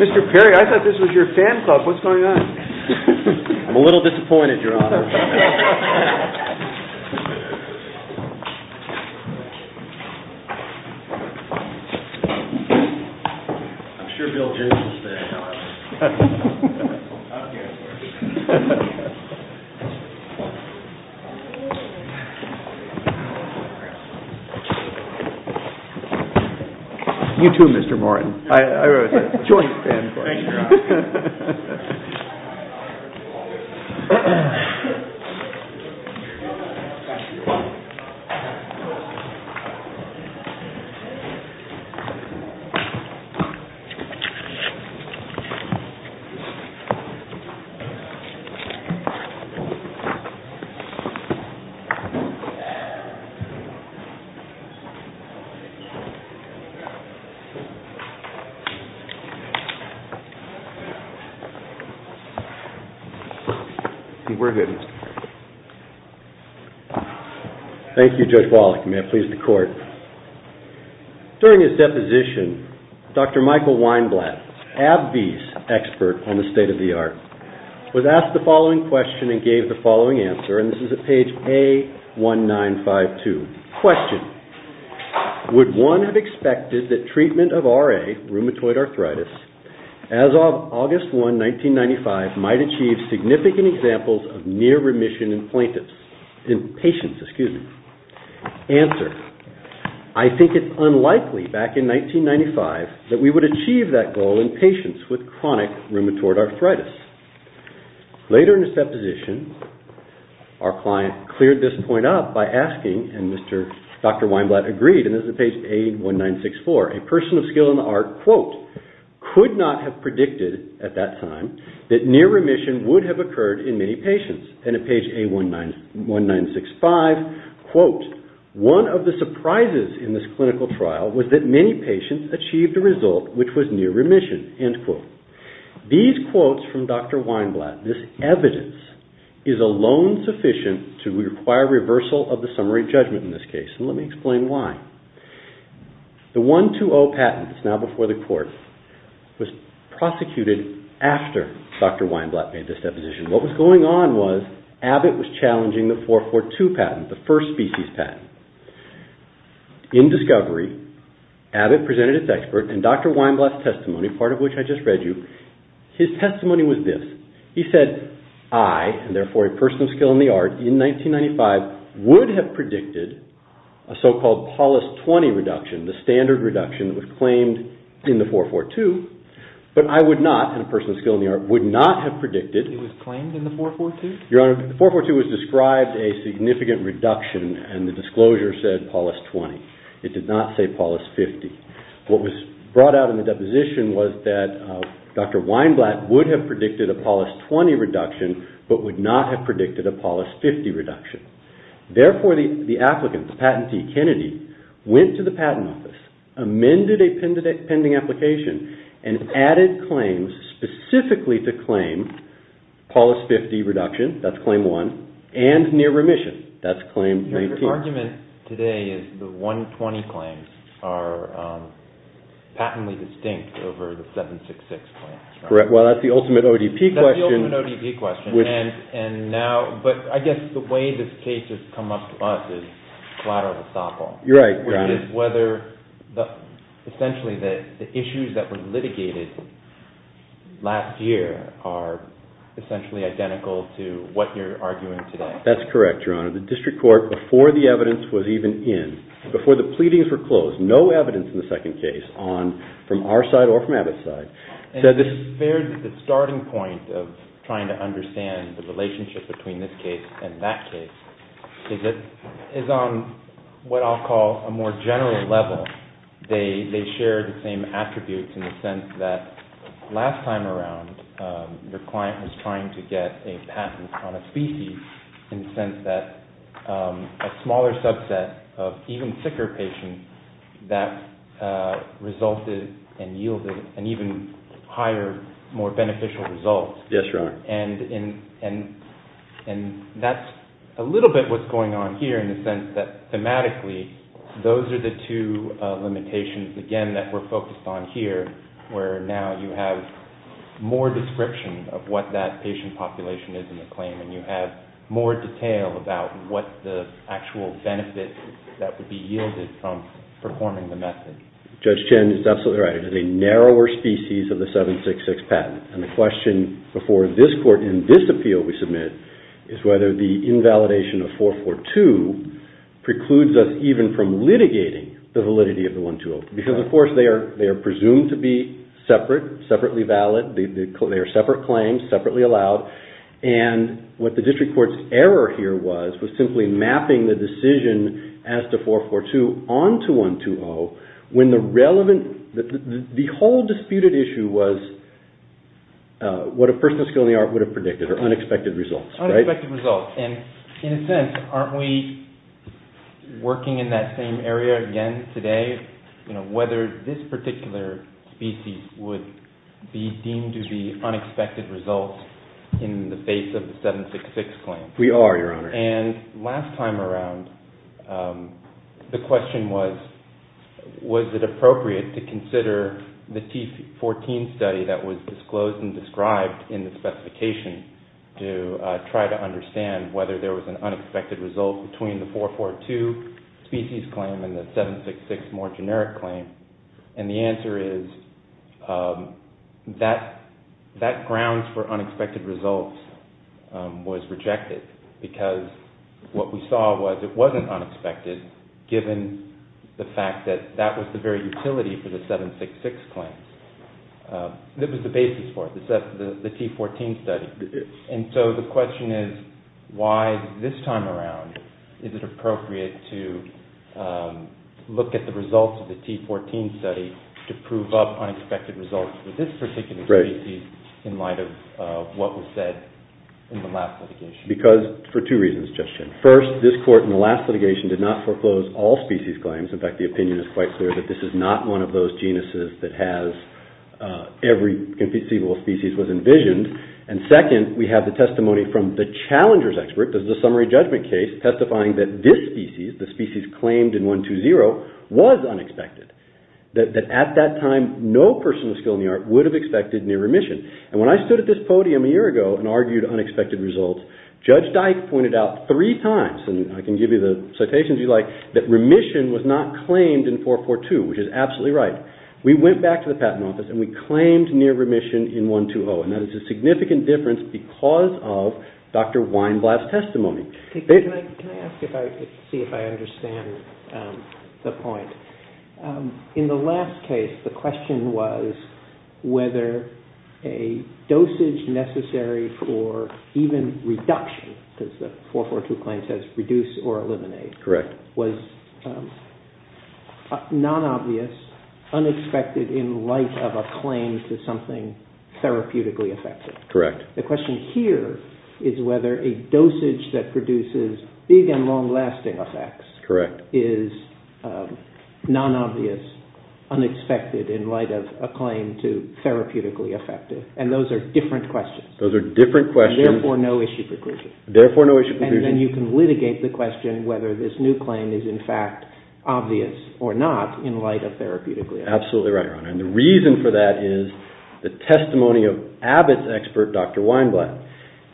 Mr. Perry, I thought this was your fan club. What's going on? I'm a little disappointed, Your Honor. I'm sure Bill James is fan club. You too, Mr. Morton. Thank you, Your Honor. Thank you, Your Honor. We're good, Mr. Perry. Thank you, Judge Wallach. May it please the Court. During his deposition, Dr. Michael Weinblatt, AbbVie's expert on the state-of-the-art, was asked the following question and gave the following answer, and this is at page A1952. Question. Would one have expected that treatment of RA, rheumatoid arthritis, as of August 1, 1995, might achieve significant examples of near remission in patients? Answer. I think it's unlikely, back in 1995, that we would achieve that goal in patients with chronic rheumatoid arthritis. Later in his deposition, our client cleared this point up by asking, and Dr. Weinblatt agreed, and this is at page A1964. A person of skill in the art, quote, could not have predicted at that time that near remission would have occurred in many patients. And at page A1965, quote, one of the surprises in this clinical trial was that many patients achieved a result which was near remission, end quote. These quotes from Dr. Weinblatt, this evidence, is alone sufficient to require reversal of the summary judgment in this case, and let me explain why. The 120 patent, it's now before the Court, was prosecuted after Dr. Weinblatt made this deposition. What was going on was Abbott was challenging the 442 patent, the first species patent. In discovery, Abbott presented its expert, and Dr. Weinblatt's testimony, part of which I just read you, his testimony was this. He said, I, and therefore a person of skill in the art, in 1995, would have predicted a so-called Paulus 20 reduction, the standard reduction that was claimed in the 442, but I would not, and a person of skill in the art, would not have predicted. It was claimed in the 442? Your Honor, the 442 was described a significant reduction, and the disclosure said Paulus 20. It did not say Paulus 50. What was brought out in the deposition was that Dr. Weinblatt would have predicted a Paulus 20 reduction, but would not have predicted a Paulus 50 reduction. Therefore, the applicant, the patentee, Kennedy, went to the Patent Office, amended a pending application, and added claims specifically to claim Paulus 50 reduction, that's claim one, and near remission, that's claim 19. Your argument today is the 120 claims are patently distinct over the 766 claims. Well, that's the ultimate ODP question. And now, but I guess the way this case has come up to us is collateral estoppel. You're right. Which is whether, essentially, the issues that were litigated last year are essentially identical to what you're arguing today. That's correct, Your Honor. The District Court, before the evidence was even in, before the pleadings were closed, no evidence in the second case on, from our side or from Abbott's side, said this… The starting point of trying to understand the relationship between this case and that case is on what I'll call a more general level. They share the same attributes in the sense that last time around, your client was trying to get a patent on a species in the sense that a smaller subset of even sicker patients that resulted and yielded an even higher, more beneficial result. Yes, Your Honor. And that's a little bit what's going on here in the sense that thematically, those are the two limitations, again, that we're focused on here, where now you have more description of what that patient population is in the claim and you have more detail about what the actual benefit that would be yielded from performing the method. Judge Chen is absolutely right. It is a narrower species of the 766 patent. And the question before this Court in this appeal we submit is whether the invalidation of 442 precludes us even from litigating the validity of the 120 because, of course, they are presumed to be separate, separately valid. They are separate claims, separately allowed. And what the District Court's error here was, was simply mapping the decision as to 442 onto 120 when the relevant, the whole disputed issue was what a person with a skill in the art would have predicted or unexpected results. Unexpected results. Well, and in a sense, aren't we working in that same area again today, you know, whether this particular species would be deemed to be unexpected results in the base of the 766 claim? We are, Your Honor. And last time around, the question was, was it appropriate to consider the T14 study that was disclosed and described in the specification to try to understand whether there was an unexpected result between the 442 species claim and the 766 more generic claim? And the answer is that grounds for unexpected results was rejected because what we saw was it wasn't unexpected given the fact that that was the very utility for the 766 claim. That was the basis for it, the T14 study. And so the question is, why this time around, is it appropriate to look at the results of the T14 study to prove up unexpected results for this particular species in light of what was said in the last litigation? Because, for two reasons, Justice Chin. First, this Court in the last litigation did not foreclose all species claims. In fact, the opinion is quite clear that this is not one of those genuses that has every conceivable species was envisioned. And second, we have the testimony from the challenger's expert. This is a summary judgment case testifying that this species, the species claimed in 120, was unexpected. That at that time, no person with skill in the art would have expected near remission. And when I stood at this podium a year ago and argued unexpected results, Judge Dyke pointed out three times, and I can give you the citations you like, that remission was not claimed in 442, which is absolutely right. We went back to the Patent Office and we claimed near remission in 120, and that is a significant difference because of Dr. Weinblatt's testimony. Can I ask, to see if I understand the point. In the last case, the question was whether a dosage necessary for even reduction, because the 442 claim says reduce or eliminate. Correct. Was non-obvious, unexpected in light of a claim to something therapeutically effective. Correct. The question here is whether a dosage that produces big and long-lasting effects is non-obvious, unexpected in light of a claim to therapeutically effective. And those are different questions. Those are different questions. Therefore, no issue preclusion. Therefore, no issue preclusion. And then you can litigate the question whether this new claim is in fact obvious or not in light of therapeutically effective. Absolutely right, Your Honor. And the reason for that is the testimony of Abbott's expert, Dr. Weinblatt.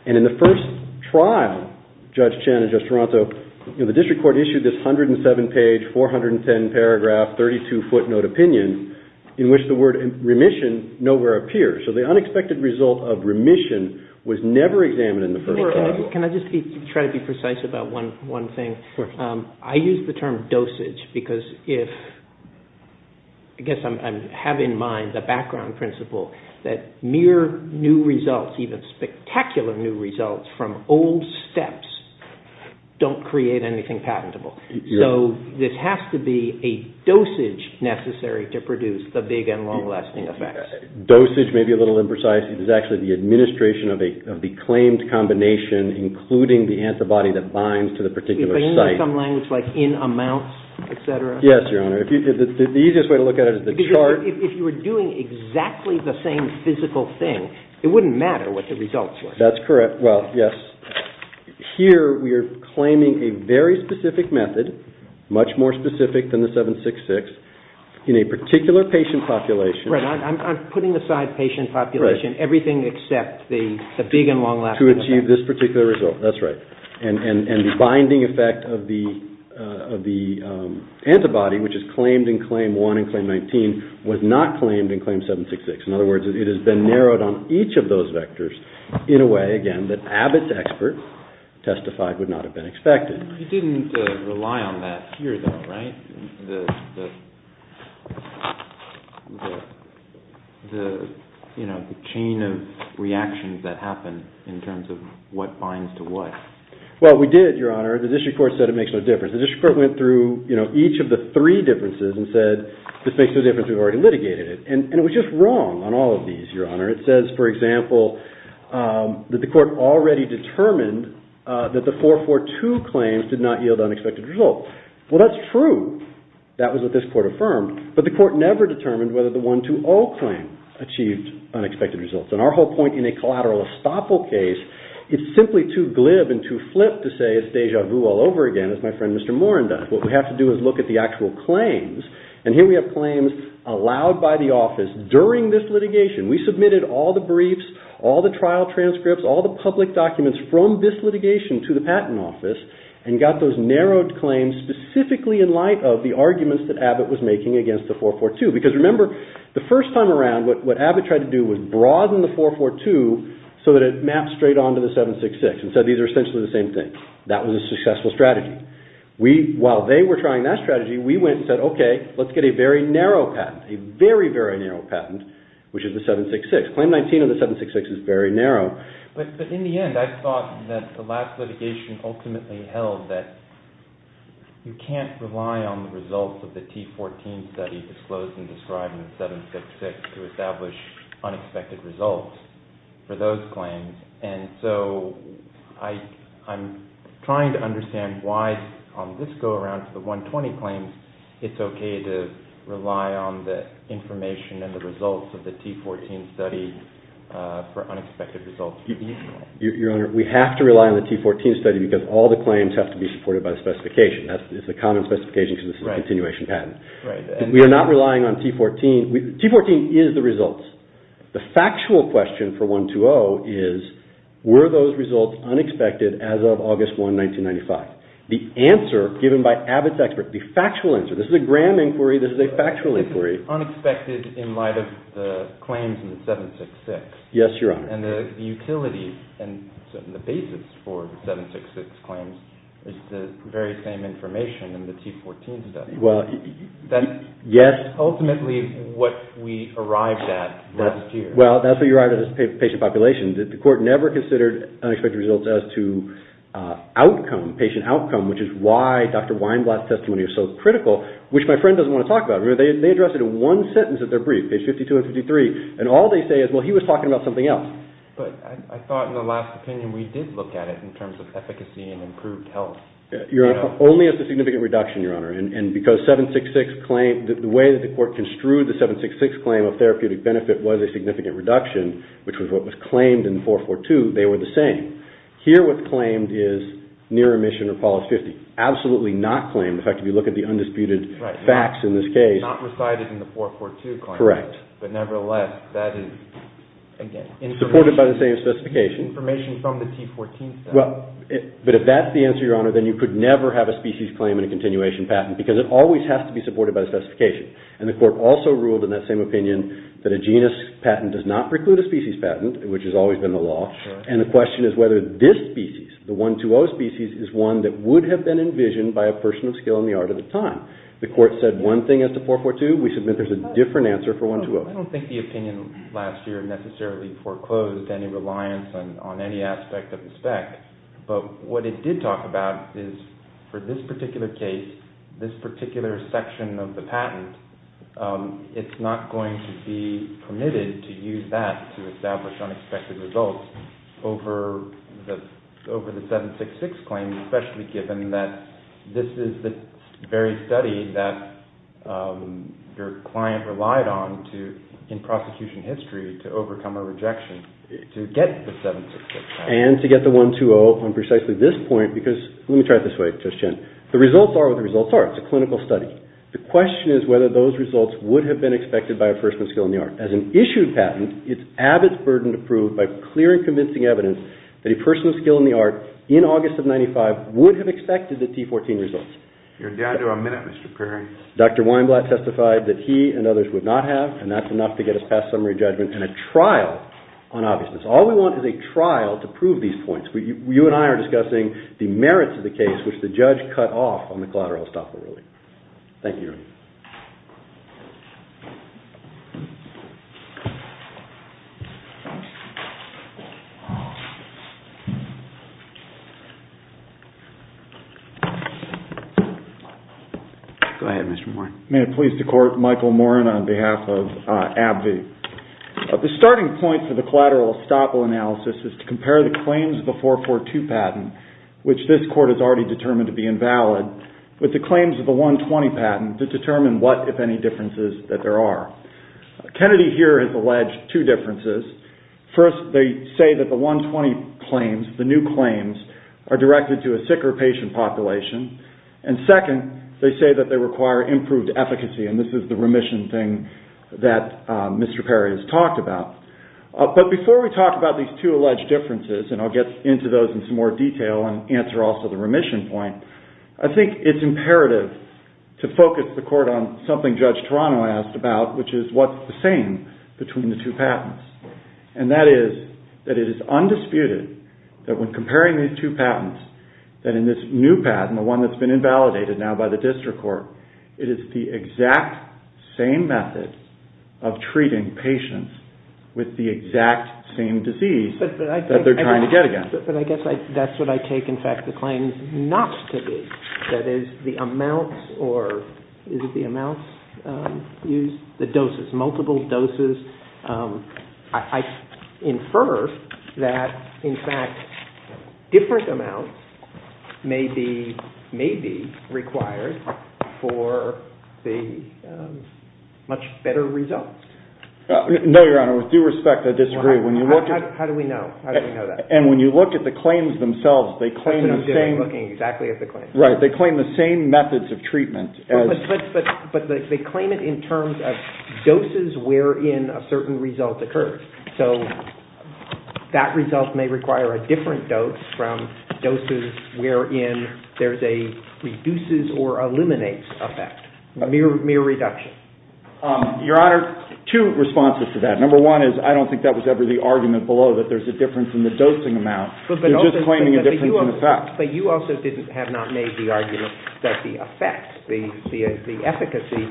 And in the first trial, Judge Chen and Judge Toronto, the district court issued this 107-page, 410-paragraph, 32-foot note opinion in which the word remission nowhere appears. So the unexpected result of remission was never examined in the first trial. Can I just try to be precise about one thing? Sure. I use the term dosage because I guess I have in mind the background principle that mere new results, even spectacular new results from old steps, don't create anything patentable. So this has to be a dosage necessary to produce the big and long-lasting effects. Dosage may be a little imprecise. It is actually the administration of the claimed combination, including the antibody that binds to the particular site. But you mean some language like in amounts, et cetera? Yes, Your Honor. The easiest way to look at it is the chart. Because if you were doing exactly the same physical thing, it wouldn't matter what the results were. That's correct. Well, yes. Here we are claiming a very specific method, much more specific than the 766, in a particular patient population. Right. I'm putting aside patient population, everything except the big and long-lasting effect. To achieve this particular result. That's right. And the binding effect of the antibody, which is claimed in Claim 1 and Claim 19, was not claimed in Claim 766. In other words, it has been narrowed on each of those vectors in a way, again, that Abbott's expert testified would not have been expected. You didn't rely on that here, though, right? You didn't rely on the chain of reactions that happened in terms of what binds to what. Well, we did, Your Honor. The district court said it makes no difference. The district court went through each of the three differences and said, this makes no difference, we've already litigated it. And it was just wrong on all of these, Your Honor. It says, for example, that the court already determined that the 442 claims did not yield unexpected results. Well, that's true. That was what this court affirmed. But the court never determined whether the 120 claim achieved unexpected results. And our whole point in a collateral estoppel case, it's simply too glib and too flip to say it's deja vu all over again, as my friend Mr. Morin does. What we have to do is look at the actual claims. And here we have claims allowed by the office during this litigation. We submitted all the briefs, all the trial transcripts, all the public documents from this litigation to the Patent Office. And got those narrowed claims specifically in light of the arguments that Abbott was making against the 442. Because remember, the first time around, what Abbott tried to do was broaden the 442 so that it mapped straight on to the 766. And said these are essentially the same thing. That was a successful strategy. While they were trying that strategy, we went and said, okay, let's get a very narrow patent. A very, very narrow patent, which is the 766. Claim 19 of the 766 is very narrow. But in the end, I thought that the last litigation ultimately held that you can't rely on the results of the T14 study disclosed and described in the 766 to establish unexpected results for those claims. And so I'm trying to understand why on this go around to the 120 claims, it's okay to rely on the information and the results of the T14 study for unexpected results. Your Honor, we have to rely on the T14 study because all the claims have to be supported by the specification. It's a common specification because it's a continuation patent. We are not relying on T14. T14 is the results. The factual question for 120 is were those results unexpected as of August 1, 1995? The answer given by Abbott's expert, the factual answer. This is a grand inquiry. This is a factual inquiry. It's unexpected in light of the claims in the 766. Yes, Your Honor. And the utility and the basis for the 766 claims is the very same information in the T14 study. That's ultimately what we arrived at last year. Well, that's what you arrived at as patient population. The court never considered unexpected results as to outcome, patient outcome, which is why Dr. Weinblatt's testimony is so critical, which my friend doesn't want to talk about. Remember, they addressed it in one sentence of their brief, page 52 and 53, and all they say is, well, he was talking about something else. But I thought in the last opinion we did look at it in terms of efficacy and improved health. Your Honor, only as a significant reduction, Your Honor. And because 766 claims, the way that the court construed the 766 claim of therapeutic benefit was a significant reduction, which was what was claimed in 442, they were the same. Here what's claimed is near emission or policy. Absolutely not claimed. In fact, if you look at the undisputed facts in this case. Not recited in the 442 claim. Correct. But nevertheless, that is, again. Supported by the same specification. Information from the T14 study. Well, but if that's the answer, Your Honor, then you could never have a species claim in a continuation patent because it always has to be supported by the specification. And the court also ruled in that same opinion that a genus patent does not preclude a species patent, which has always been the law. And the question is whether this species, the 120 species, is one that would have been envisioned by a person of skill in the art of the time. The court said one thing as to 442. We submit there's a different answer for 120. I don't think the opinion last year necessarily foreclosed any reliance on any aspect of the spec. But what it did talk about is for this particular case, this particular section of the patent, it's not going to be permitted to use that to establish unexpected results over the 766 claim, especially given that this is the very study that your client relied on to in prosecution history to overcome a rejection to get the 766. And to get the 120 on precisely this point, because let me try it this way, Judge Chen. The results are what the results are. It's a clinical study. The question is whether those results would have been expected by a person of skill in the art. Would have expected the T14 results. You're down to a minute, Mr. Perry. Dr. Weinblatt testified that he and others would not have, and that's enough to get us past summary judgment and a trial on obviousness. All we want is a trial to prove these points. You and I are discussing the merits of the case which the judge cut off on the collateral estoppel ruling. Thank you. Go ahead, Mr. Moran. May it please the Court, Michael Moran on behalf of AbbVie. The starting point for the collateral estoppel analysis is to compare the claims of the 442 patent, which this Court has already determined to be invalid, with the claims of the 120 patent to determine what, if any, differences that there are. Kennedy here has alleged two differences. First, they say that the 120 claims, the new claims, are directed to a sick or patient population. And second, they say that they require improved efficacy, and this is the remission thing that Mr. Perry has talked about. But before we talk about these two alleged differences, and I'll get into those in some more detail and answer also the remission point, I think it's imperative to focus the Court on something Judge Toronto asked about, which is what's the same between the two patents. And that is that it is undisputed that when comparing these two patents, that in this new patent, the one that's been invalidated now by the district court, it is the exact same method of treating patients with the exact same disease that they're trying to get against. But I guess that's what I take, in fact, the claims not to be. That is, the amounts, or is it the amounts used? The doses, multiple doses. I infer that, in fact, different amounts may be required for the much better results. No, Your Honor, with due respect, I disagree. How do we know? How do we know that? And when you look at the claims themselves, they claim the same. That's what I'm doing, looking exactly at the claims. Right, they claim the same methods of treatment. But they claim it in terms of doses wherein a certain result occurs. So that result may require a different dose from doses wherein there's a reduces or eliminates effect, mere reduction. Your Honor, two responses to that. Number one is I don't think that was ever the argument below, that there's a difference in the dosing amount. They're just claiming a difference in effect. But you also have not made the argument that the effect, the efficacy,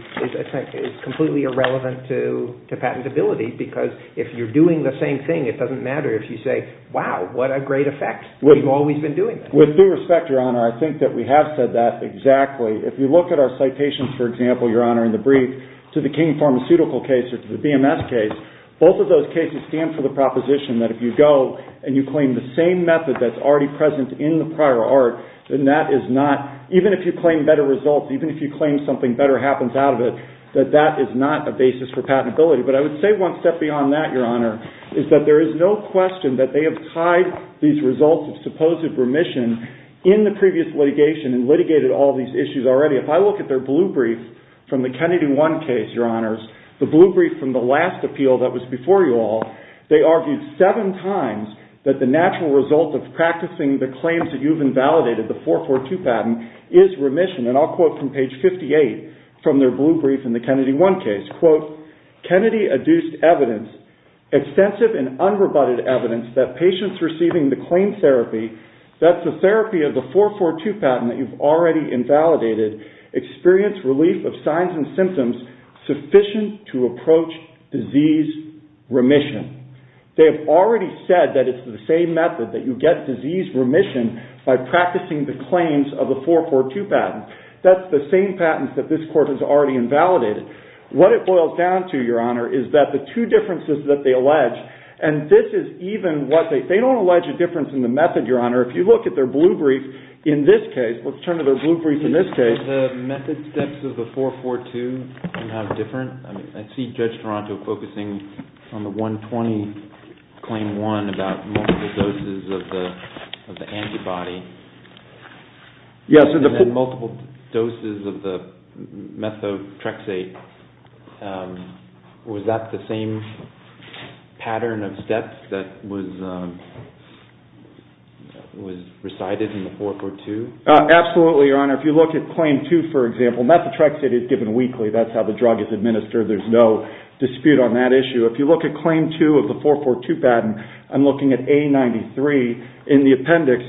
is completely irrelevant to patentability. Because if you're doing the same thing, it doesn't matter if you say, wow, what a great effect. We've always been doing this. With due respect, Your Honor, I think that we have said that exactly. If you look at our citations, for example, Your Honor, in the brief, to the King Pharmaceutical case or to the BMS case, both of those cases stand for the proposition that if you go and you claim the same method that's already present in the prior art, then that is not, even if you claim better results, even if you claim something better happens out of it, that that is not a basis for patentability. But I would say one step beyond that, Your Honor, is that there is no question that they have tied these results of supposed remission in the previous litigation and litigated all these issues already. If I look at their blue brief from the Kennedy One case, Your Honors, the blue brief from the last appeal that was before you all, they argued seven times that the natural result of practicing the claims that you've invalidated, the 442 patent, is remission. And I'll quote from page 58 from their blue brief in the Kennedy One case. Kennedy adduced evidence, extensive and unrebutted evidence, that patients receiving the claim therapy, that's the therapy of the 442 patent that you've already invalidated, experience relief of signs and symptoms sufficient to approach disease remission. They have already said that it's the same method, that you get disease remission by practicing the claims of the 442 patent. That's the same patent that this court has already invalidated. What it boils down to, Your Honor, is that the two differences that they allege, and this is even what they, they don't allege a difference in the method, Your Honor. If you look at their blue brief in this case, let's turn to their blue brief in this case. Is the method steps of the 442 somehow different? I see Judge Toronto focusing on the 120 claim one about multiple doses of the antibody. And then multiple doses of the methotrexate. Was that the same pattern of steps that was recited in the 442? Absolutely, Your Honor. If you look at claim two, for example, methotrexate is given weekly. That's how the drug is administered. There's no dispute on that issue. If you look at claim two of the 442 patent, I'm looking at A93 in the appendix.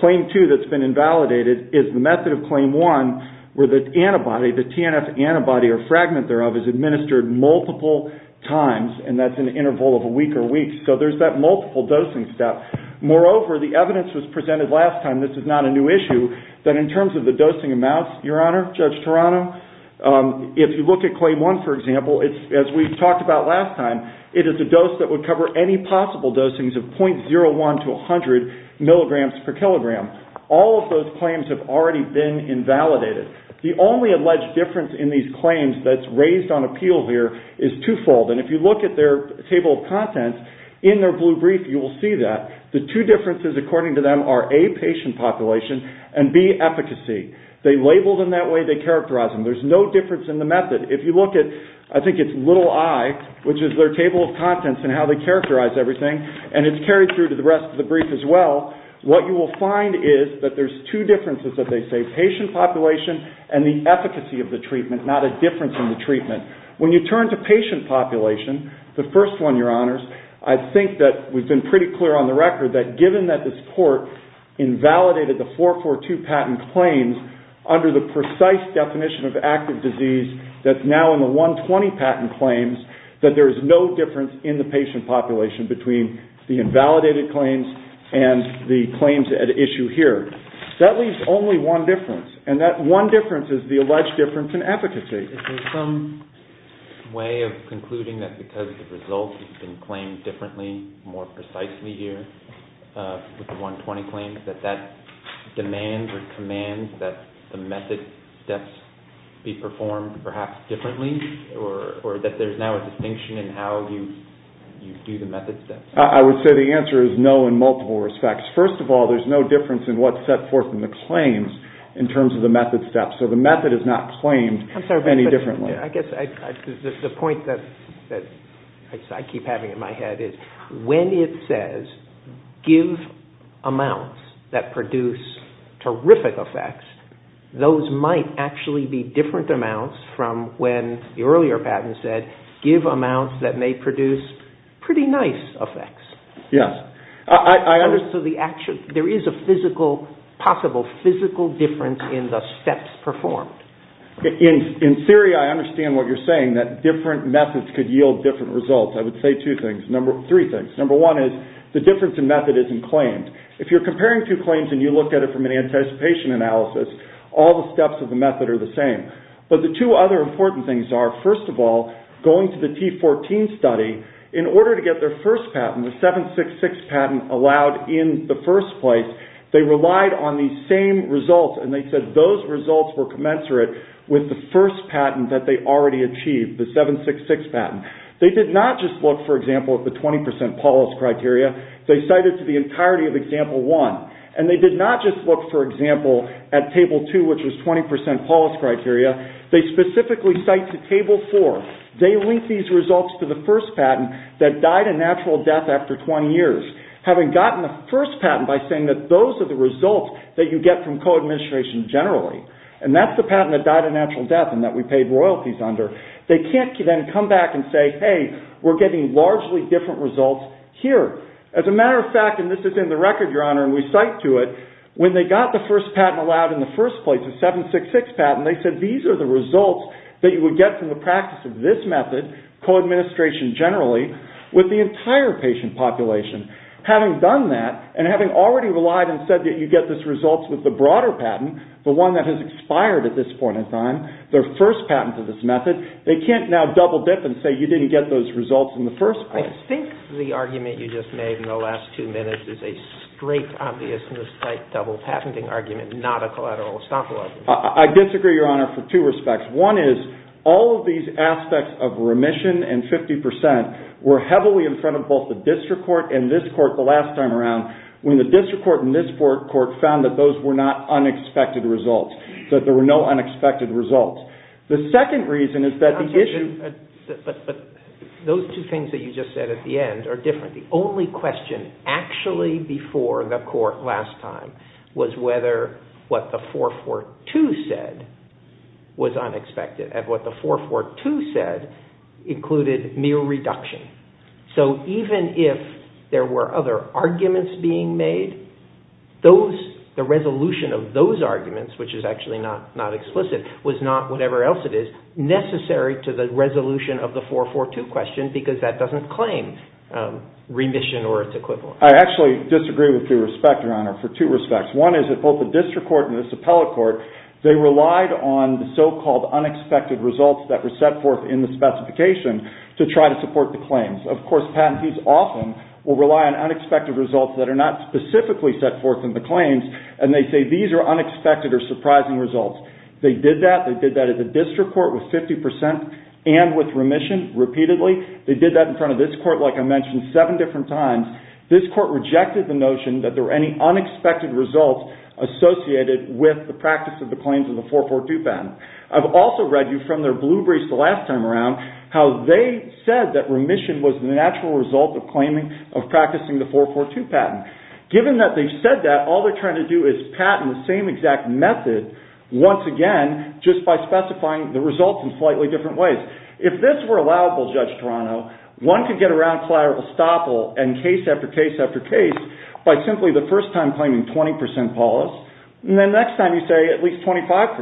Claim two that's been invalidated is the method of claim one where the antibody, the TNF antibody or fragment thereof, is administered multiple times, and that's an interval of a week or weeks. So there's that multiple dosing step. Moreover, the evidence was presented last time, this is not a new issue, that in terms of the dosing amounts, Your Honor, Judge Toronto, if you look at claim one, for example, as we talked about last time, it is a dose that would cover any possible dosings of .01 to 100 milligrams per kilogram. All of those claims have already been invalidated. The only alleged difference in these claims that's raised on appeal here is twofold, and if you look at their table of contents in their blue brief, you will see that. The two differences, according to them, are A, patient population, and B, efficacy. They label them that way, they characterize them. There's no difference in the method. If you look at, I think it's little i, which is their table of contents and how they characterize everything, and it's carried through to the rest of the brief as well, what you will find is that there's two differences that they say, patient population and the efficacy of the treatment, not a difference in the treatment. When you turn to patient population, the first one, Your Honors, I think that we've been pretty clear on the record that given that this court invalidated the 442 patent claims under the precise definition of active disease that's now in the 120 patent claims, that there is no difference in the patient population between the invalidated claims and the claims at issue here. That leaves only one difference, and that one difference is the alleged difference in efficacy. Is there some way of concluding that because the results have been claimed differently, more precisely here with the 120 claims, that that demands or commands that the method steps be performed perhaps differently, or that there's now a distinction in how you do the method steps? I would say the answer is no in multiple respects. First of all, there's no difference in what's set forth in the claims in terms of the method steps, so the method is not claimed any differently. I guess the point that I keep having in my head is when it says give amounts that produce terrific effects, those might actually be different amounts from when the earlier patent said give amounts that may produce pretty nice effects. Yes. So there is a possible physical difference in the steps performed. In theory, I understand what you're saying, that different methods could yield different results. I would say two things, three things. Number one is the difference in method isn't claimed. If you're comparing two claims and you look at it from an anticipation analysis, all the steps of the method are the same. But the two other important things are, first of all, going to the T14 study, in order to get their first patent, the 766 patent allowed in the first place, they relied on the same results and they said those results were commensurate with the first patent that they already achieved, the 766 patent. They did not just look, for example, at the 20% Paulus criteria. They cited to the entirety of Example 1. And they did not just look, for example, at Table 2, which was 20% Paulus criteria. They specifically cite to Table 4. They linked these results to the first patent that died a natural death after 20 years. Having gotten the first patent by saying that those are the results that you get from co-administration generally, and that's the patent that died a natural death and that we paid royalties under, they can't then come back and say, hey, we're getting largely different results here. As a matter of fact, and this is in the record, Your Honor, and we cite to it, when they got the first patent allowed in the first place, the 766 patent, they said these are the results that you would get from the practice of this method, co-administration generally, with the entire patient population. Having done that, and having already relied and said that you get these results with the broader patent, the one that has expired at this point in time, their first patent to this method, they can't now double-dip and say you didn't get those results in the first place. I think the argument you just made in the last two minutes is a straight, obvious, double-patenting argument, not a collateral estoppel argument. I disagree, Your Honor, for two respects. One is all of these aspects of remission and 50% were heavily in front of both the district court and this court the last time around when the district court and this court found that those were not unexpected results, that there were no unexpected results. The second reason is that the issue… But those two things that you just said at the end are different. The only question actually before the court last time was whether what the 442 said was unexpected, and what the 442 said included mere reduction. So even if there were other arguments being made, the resolution of those arguments, which is actually not explicit, was not, whatever else it is, necessary to the resolution of the 442 question because that doesn't claim remission or its equivalent. I actually disagree with your respect, Your Honor, for two respects. One is that both the district court and this appellate court, they relied on the so-called unexpected results that were set forth in the specification to try to support the claims. Of course, patentees often will rely on unexpected results that are not specifically set forth in the claims, and they say these are unexpected or surprising results. They did that. They did that at the district court with 50% and with remission repeatedly. They did that in front of this court, like I mentioned, seven different times. This court rejected the notion that there were any unexpected results associated with the practice of the claims in the 442 patent. I've also read you from their blue briefs the last time around how they said that remission was the natural result of claiming, of practicing the 442 patent. Given that they've said that, all they're trying to do is patent the same exact method once again just by specifying the results in slightly different ways. If this were allowable, Judge Toronto, one could get around collateral estoppel and case after case after case by simply the first time claiming 20% polis, and the next time you say at least 25%,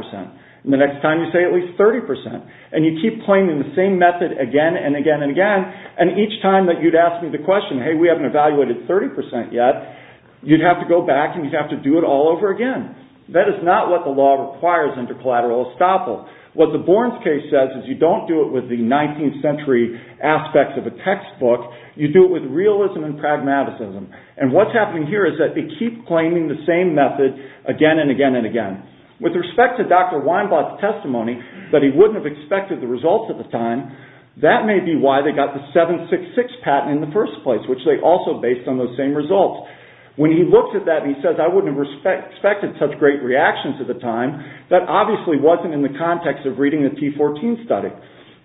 and the next time you say at least 30%, and you keep claiming the same method again and again and again, and each time that you'd ask me the question, hey, we haven't evaluated 30% yet, you'd have to go back and you'd have to do it all over again. That is not what the law requires under collateral estoppel. What the Borns case says is you don't do it with the 19th century aspects of a textbook. You do it with realism and pragmatism. And what's happening here is that they keep claiming the same method again and again and again. With respect to Dr. Weinblatt's testimony that he wouldn't have expected the results at the time, that may be why they got the 766 patent in the first place, which they also based on those same results. When he looked at that and he said, I wouldn't have expected such great reactions at the time, that obviously wasn't in the context of reading the T14 study.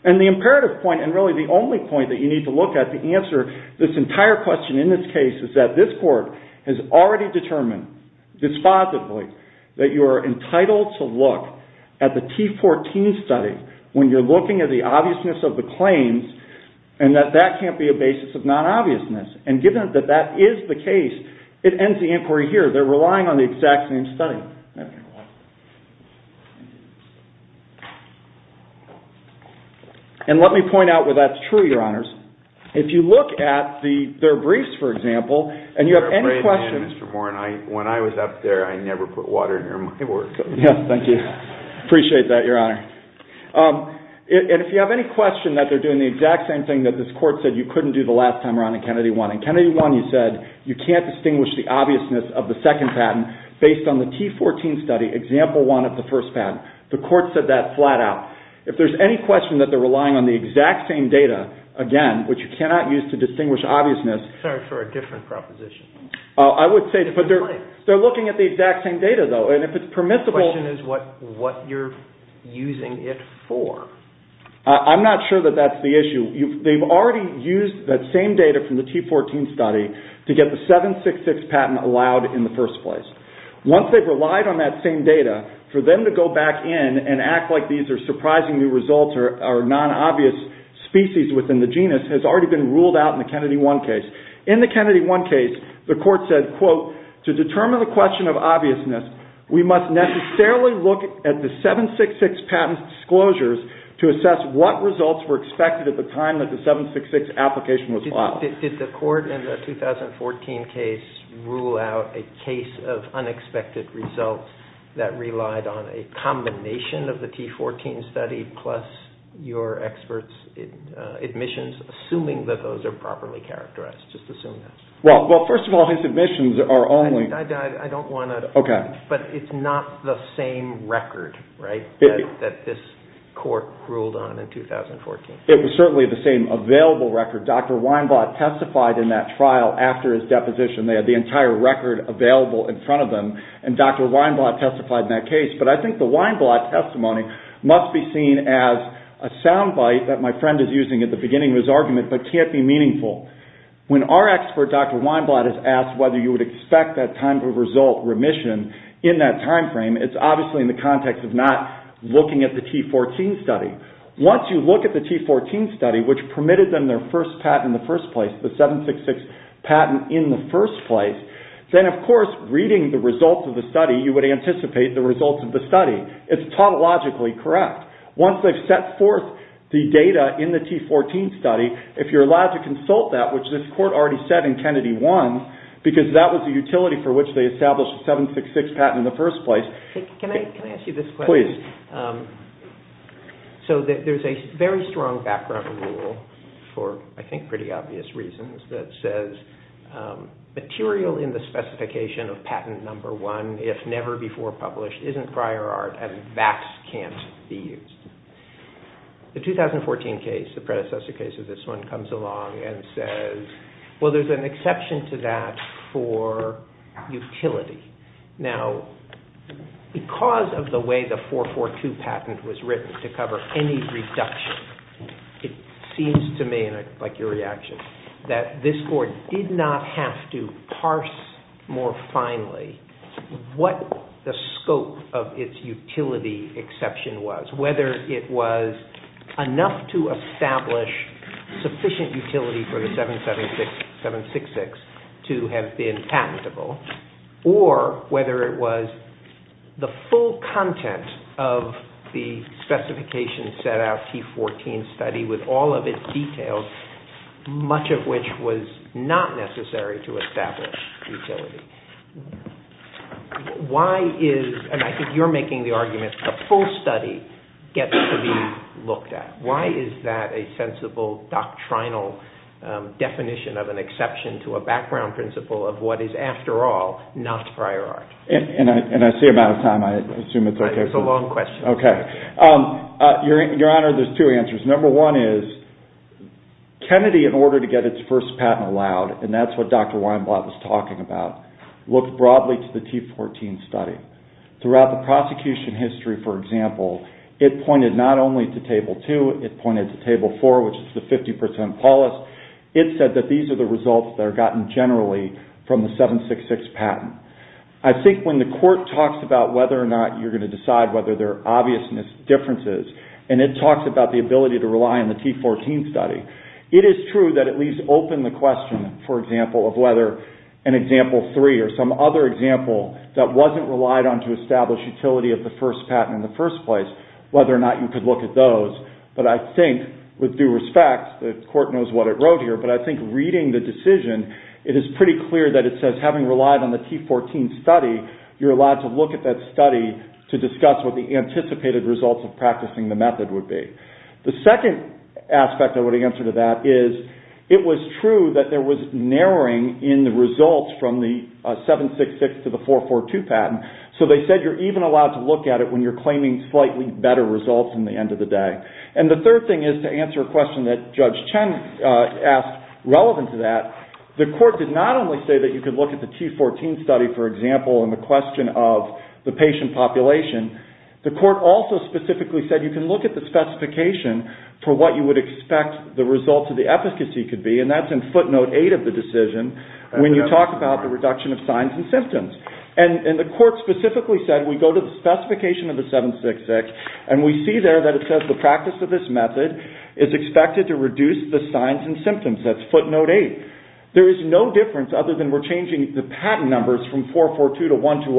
And the imperative point, and really the only point that you need to look at to answer this entire question in this case is that this court has already determined dispositively that you are entitled to look at the T14 study when you're looking at the obviousness of the claims and that that can't be a basis of non-obviousness. And given that that is the case, it ends the inquiry here. They're relying on the exact same study. And let me point out where that's true, Your Honors. If you look at their briefs, for example, and you have any questions. When I was up there, I never put water near my work. Yes, thank you. Appreciate that, Your Honor. And if you have any question that they're doing the exact same thing that this court said you couldn't do the last time around in Kennedy 1. In Kennedy 1, you said you can't distinguish the obviousness of the second patent based on the T14 study example 1 of the first patent. The court said that flat out. If there's any question that they're relying on the exact same data, again, which you cannot use to distinguish obviousness. Sorry for a different proposition. I would say they're looking at the exact same data, though. And if it's permissible. The question is what you're using it for. I'm not sure that that's the issue. They've already used that same data from the T14 study to get the 766 patent allowed in the first place. Once they've relied on that same data, for them to go back in and act like these are surprising new results or non-obvious species within the genus has already been ruled out in the Kennedy 1 case. In the Kennedy 1 case, the court said, quote, to determine the question of obviousness, we must necessarily look at the 766 patent's disclosures to assess what results were expected at the time that the 766 application was filed. Did the court in the 2014 case rule out a case of unexpected results that relied on a combination of the T14 study plus your expert's admissions, assuming that those are properly characterized? Just assume that. Well, first of all, his admissions are only... I don't want to... Okay. But it's not the same record, right, that this court ruled on in 2014? It was certainly the same available record. Dr. Weinblatt testified in that trial after his deposition. They had the entire record available in front of them, and Dr. Weinblatt testified in that case. But I think the Weinblatt testimony must be seen as a sound bite that my friend is using at the beginning of his argument but can't be meaningful. When our expert, Dr. Weinblatt, is asked whether you would expect that time-to-result remission in that timeframe, it's obviously in the context of not looking at the T14 study. Once you look at the T14 study, which permitted them their first patent in the first place, the 766 patent in the first place, then, of course, reading the results of the study, you would anticipate the results of the study. It's tautologically correct. Once they've set forth the data in the T14 study, if you're allowed to consult that, which this court already said in Kennedy 1, because that was the utility for which they established the 766 patent in the first place. Can I ask you this question? Please. So there's a very strong background rule for, I think, pretty obvious reasons that says, material in the specification of patent number one, if never before published, isn't prior art, and that can't be used. The 2014 case, the predecessor case of this one, comes along and says, well, there's an exception to that for utility. Now, because of the way the 442 patent was written to cover any reduction, it seems to me, and I'd like your reaction, that this court did not have to parse more finely what the scope of its utility exception was, whether it was enough to establish sufficient utility for the 766 to have been patentable, or whether it was the full content of the specification set out T14 study with all of its details, much of which was not necessary to establish utility. Why is, and I think you're making the argument, the full study gets to be looked at. Why is that a sensible doctrinal definition of an exception to a background principle of what is, after all, not prior art? And I see I'm out of time. I assume it's okay. It's a long question. Okay. Your Honor, there's two answers. Number one is, Kennedy, in order to get its first patent allowed, and that's what Dr. Weinblatt was talking about, looked broadly to the T14 study. Throughout the prosecution history, for example, it pointed not only to Table 2, it pointed to Table 4, which is the 50% policy. It said that these are the results that are gotten generally from the 766 patent. I think when the court talks about whether or not you're going to decide whether there are obvious differences, and it talks about the ability to rely on the T14 study, it is true that it leaves open the question, for example, of whether an Example 3 or some other example that wasn't relied on to establish utility of the first patent in the first place, whether or not you could look at those. But I think, with due respect, the court knows what it wrote here, but I think reading the decision, it is pretty clear that it says having relied on the T14 study, you're allowed to look at that study to discuss what the anticipated results of practicing the method would be. The second aspect I would answer to that is it was true that there was narrowing in the results from the 766 to the 442 patent, so they said you're even allowed to look at it when you're claiming slightly better results in the end of the day. And the third thing is to answer a question that Judge Chen asked relevant to that. The court did not only say that you could look at the T14 study, for example, in the question of the patient population. The court also specifically said you can look at the specification for what you would expect the results of the efficacy could be, and that's in footnote 8 of the decision when you talk about the reduction of signs and symptoms. And the court specifically said we go to the specification of the 766, and we see there that it says the practice of this method is expected to reduce the signs and symptoms. That's footnote 8. There is no difference other than we're changing the patent numbers from 442 to 120,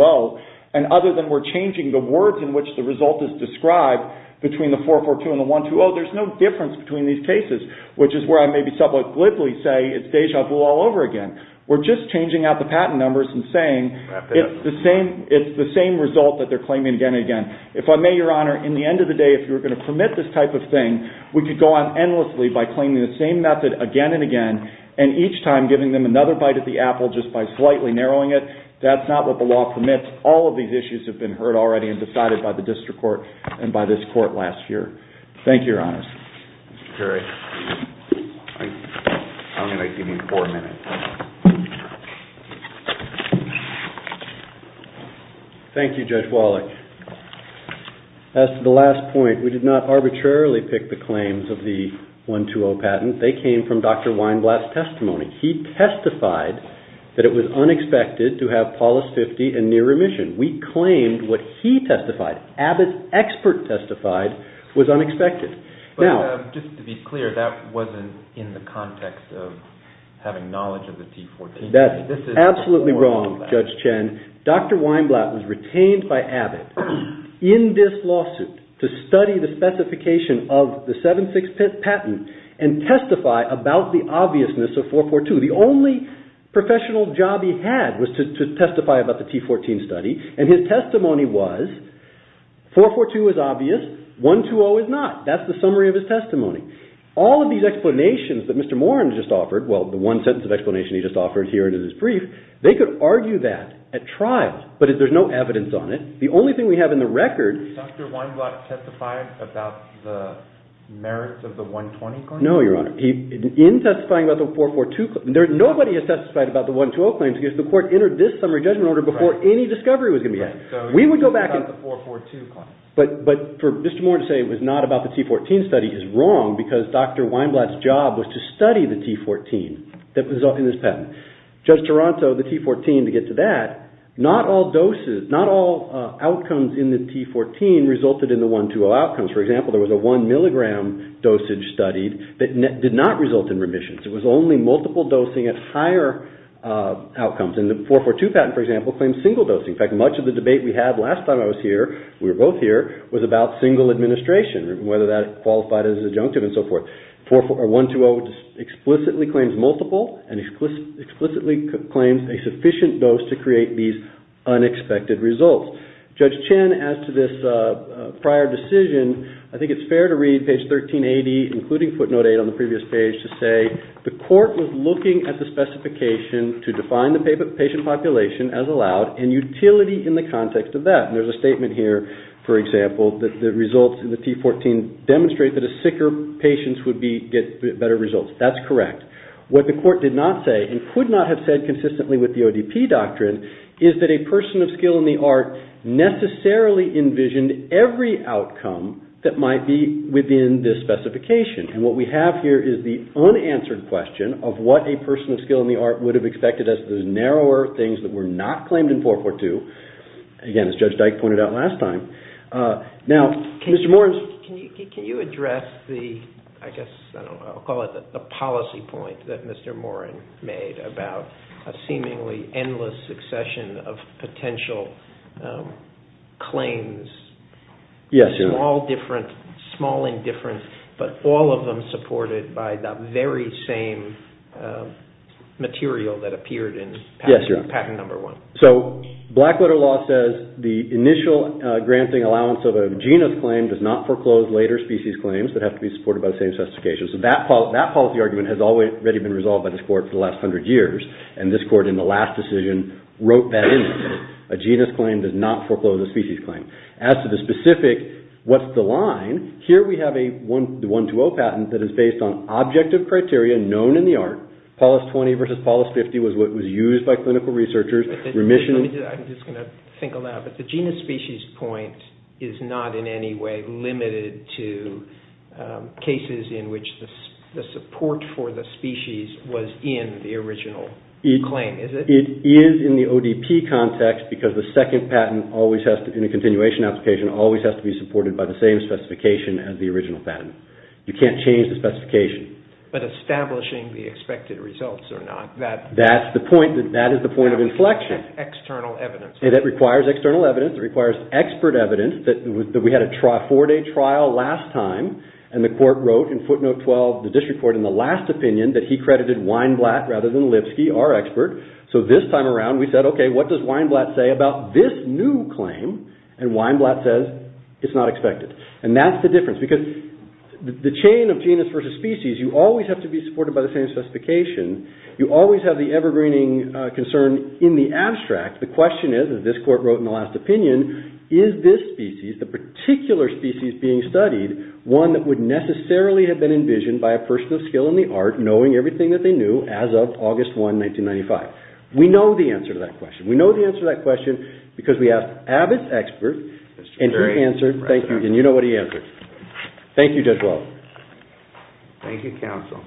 and other than we're changing the words in which the result is described between the 442 and the 120, there's no difference between these cases, which is where I may be somewhat glibly say it's déjà vu all over again. We're just changing out the patent numbers and saying it's the same result that they're claiming again and again. If I may, Your Honor, in the end of the day, if you were going to permit this type of thing, we could go on endlessly by claiming the same method again and again, and each time giving them another bite at the apple just by slightly narrowing it. That's not what the law permits. All of these issues have been heard already and decided by the district court and by this court last year. Thank you, Your Honors. Thank you, Judge Wallach. As to the last point, we did not arbitrarily pick the claims of the 120 patent. They came from Dr. Weinblatt's testimony. He testified that it was unexpected to have Paulus 50 in near remission. We claimed what he testified, Abbott's expert testified, was unexpected. Just to be clear, that wasn't in the context of having knowledge of the T14. That's absolutely wrong, Judge Chen. Dr. Weinblatt was retained by Abbott in this lawsuit to study the specification of the 7-6 patent and testify about the obviousness of 442. The only professional job he had was to testify about the T14 study, and his testimony was 442 is obvious, 120 is not. That's the summary of his testimony. All of these explanations that Mr. Moran just offered, well, the one sentence of explanation he just offered here and in his brief, they could argue that at trial, but there's no evidence on it. Did Dr. Weinblatt testify about the merits of the 120 claim? No, Your Honor. In testifying about the 442, nobody has testified about the 120 claims because the court entered this summary judgment order before any discovery was going to be made. Right, so he testified about the 442 claim. But for Mr. Moran to say it was not about the T14 study is wrong because Dr. Weinblatt's job was to study the T14 that was in this patent. Judge Toronto, the T14, to get to that, not all outcomes in the T14 resulted in the 120 outcomes. For example, there was a one milligram dosage studied that did not result in remissions. It was only multiple dosing at higher outcomes. And the 442 patent, for example, claims single dosing. In fact, much of the debate we had last time I was here, we were both here, was about single administration and whether that qualified as an adjunctive and so forth. 120 explicitly claims multiple and explicitly claims a sufficient dose to create these unexpected results. Judge Chen, as to this prior decision, I think it's fair to read page 1380, including footnote 8 on the previous page, to say, the court was looking at the specification to define the patient population as allowed and utility in the context of that. And there's a statement here, for example, that the results in the T14 can demonstrate that a sicker patient would get better results. That's correct. What the court did not say and could not have said consistently with the ODP doctrine is that a person of skill in the art necessarily envisioned every outcome that might be within this specification. And what we have here is the unanswered question of what a person of skill in the art would have expected as the narrower things that were not claimed in 442. Again, as Judge Dyke pointed out last time. Now, Mr. Morin. Can you address the, I guess, I don't know, I'll call it the policy point that Mr. Morin made about a seemingly endless succession of potential claims. Yes, Your Honor. Small difference, small indifference, but all of them supported by the very same material that appeared in patent number one. So, black letter law says the initial granting allowance of a genus claim does not foreclose later species claims that have to be supported by the same specifications. That policy argument has already been resolved by this court for the last hundred years. And this court, in the last decision, wrote that in. A genus claim does not foreclose a species claim. As to the specific, what's the line, here we have the 120 patent that is based on objective criteria known in the art. Paulus 20 versus Paulus 50 was what was used by clinical researchers, remission. I'm just going to think a lot, but the genus species point is not in any way limited to cases in which the support for the species was in the original claim, is it? It is in the ODP context because the second patent always has to, in a continuation application, always has to be supported by the same specification You can't change the specification. But establishing the expected results or not. That's the point, that is the point of inflection. External evidence. It requires external evidence, it requires expert evidence. We had a four day trial last time and the court wrote in footnote 12, the district court, in the last opinion that he credited Weinblatt rather than Lipsky, our expert. So this time around we said, okay, what does Weinblatt say about this new claim? And Weinblatt says, it's not expected. And that's the difference because the chain of genus versus species, you always have to be supported by the same specification. You always have the evergreening concern in the abstract. The question is, as this court wrote in the last opinion, is this species, the particular species being studied, one that would necessarily have been envisioned by a person of skill in the art, knowing everything that they knew as of August 1, 1995? We know the answer to that question. We know the answer to that question because we asked Abbott's expert, and he answered, and you know what he answered. Thank you, Judge Welch. Thank you, counsel.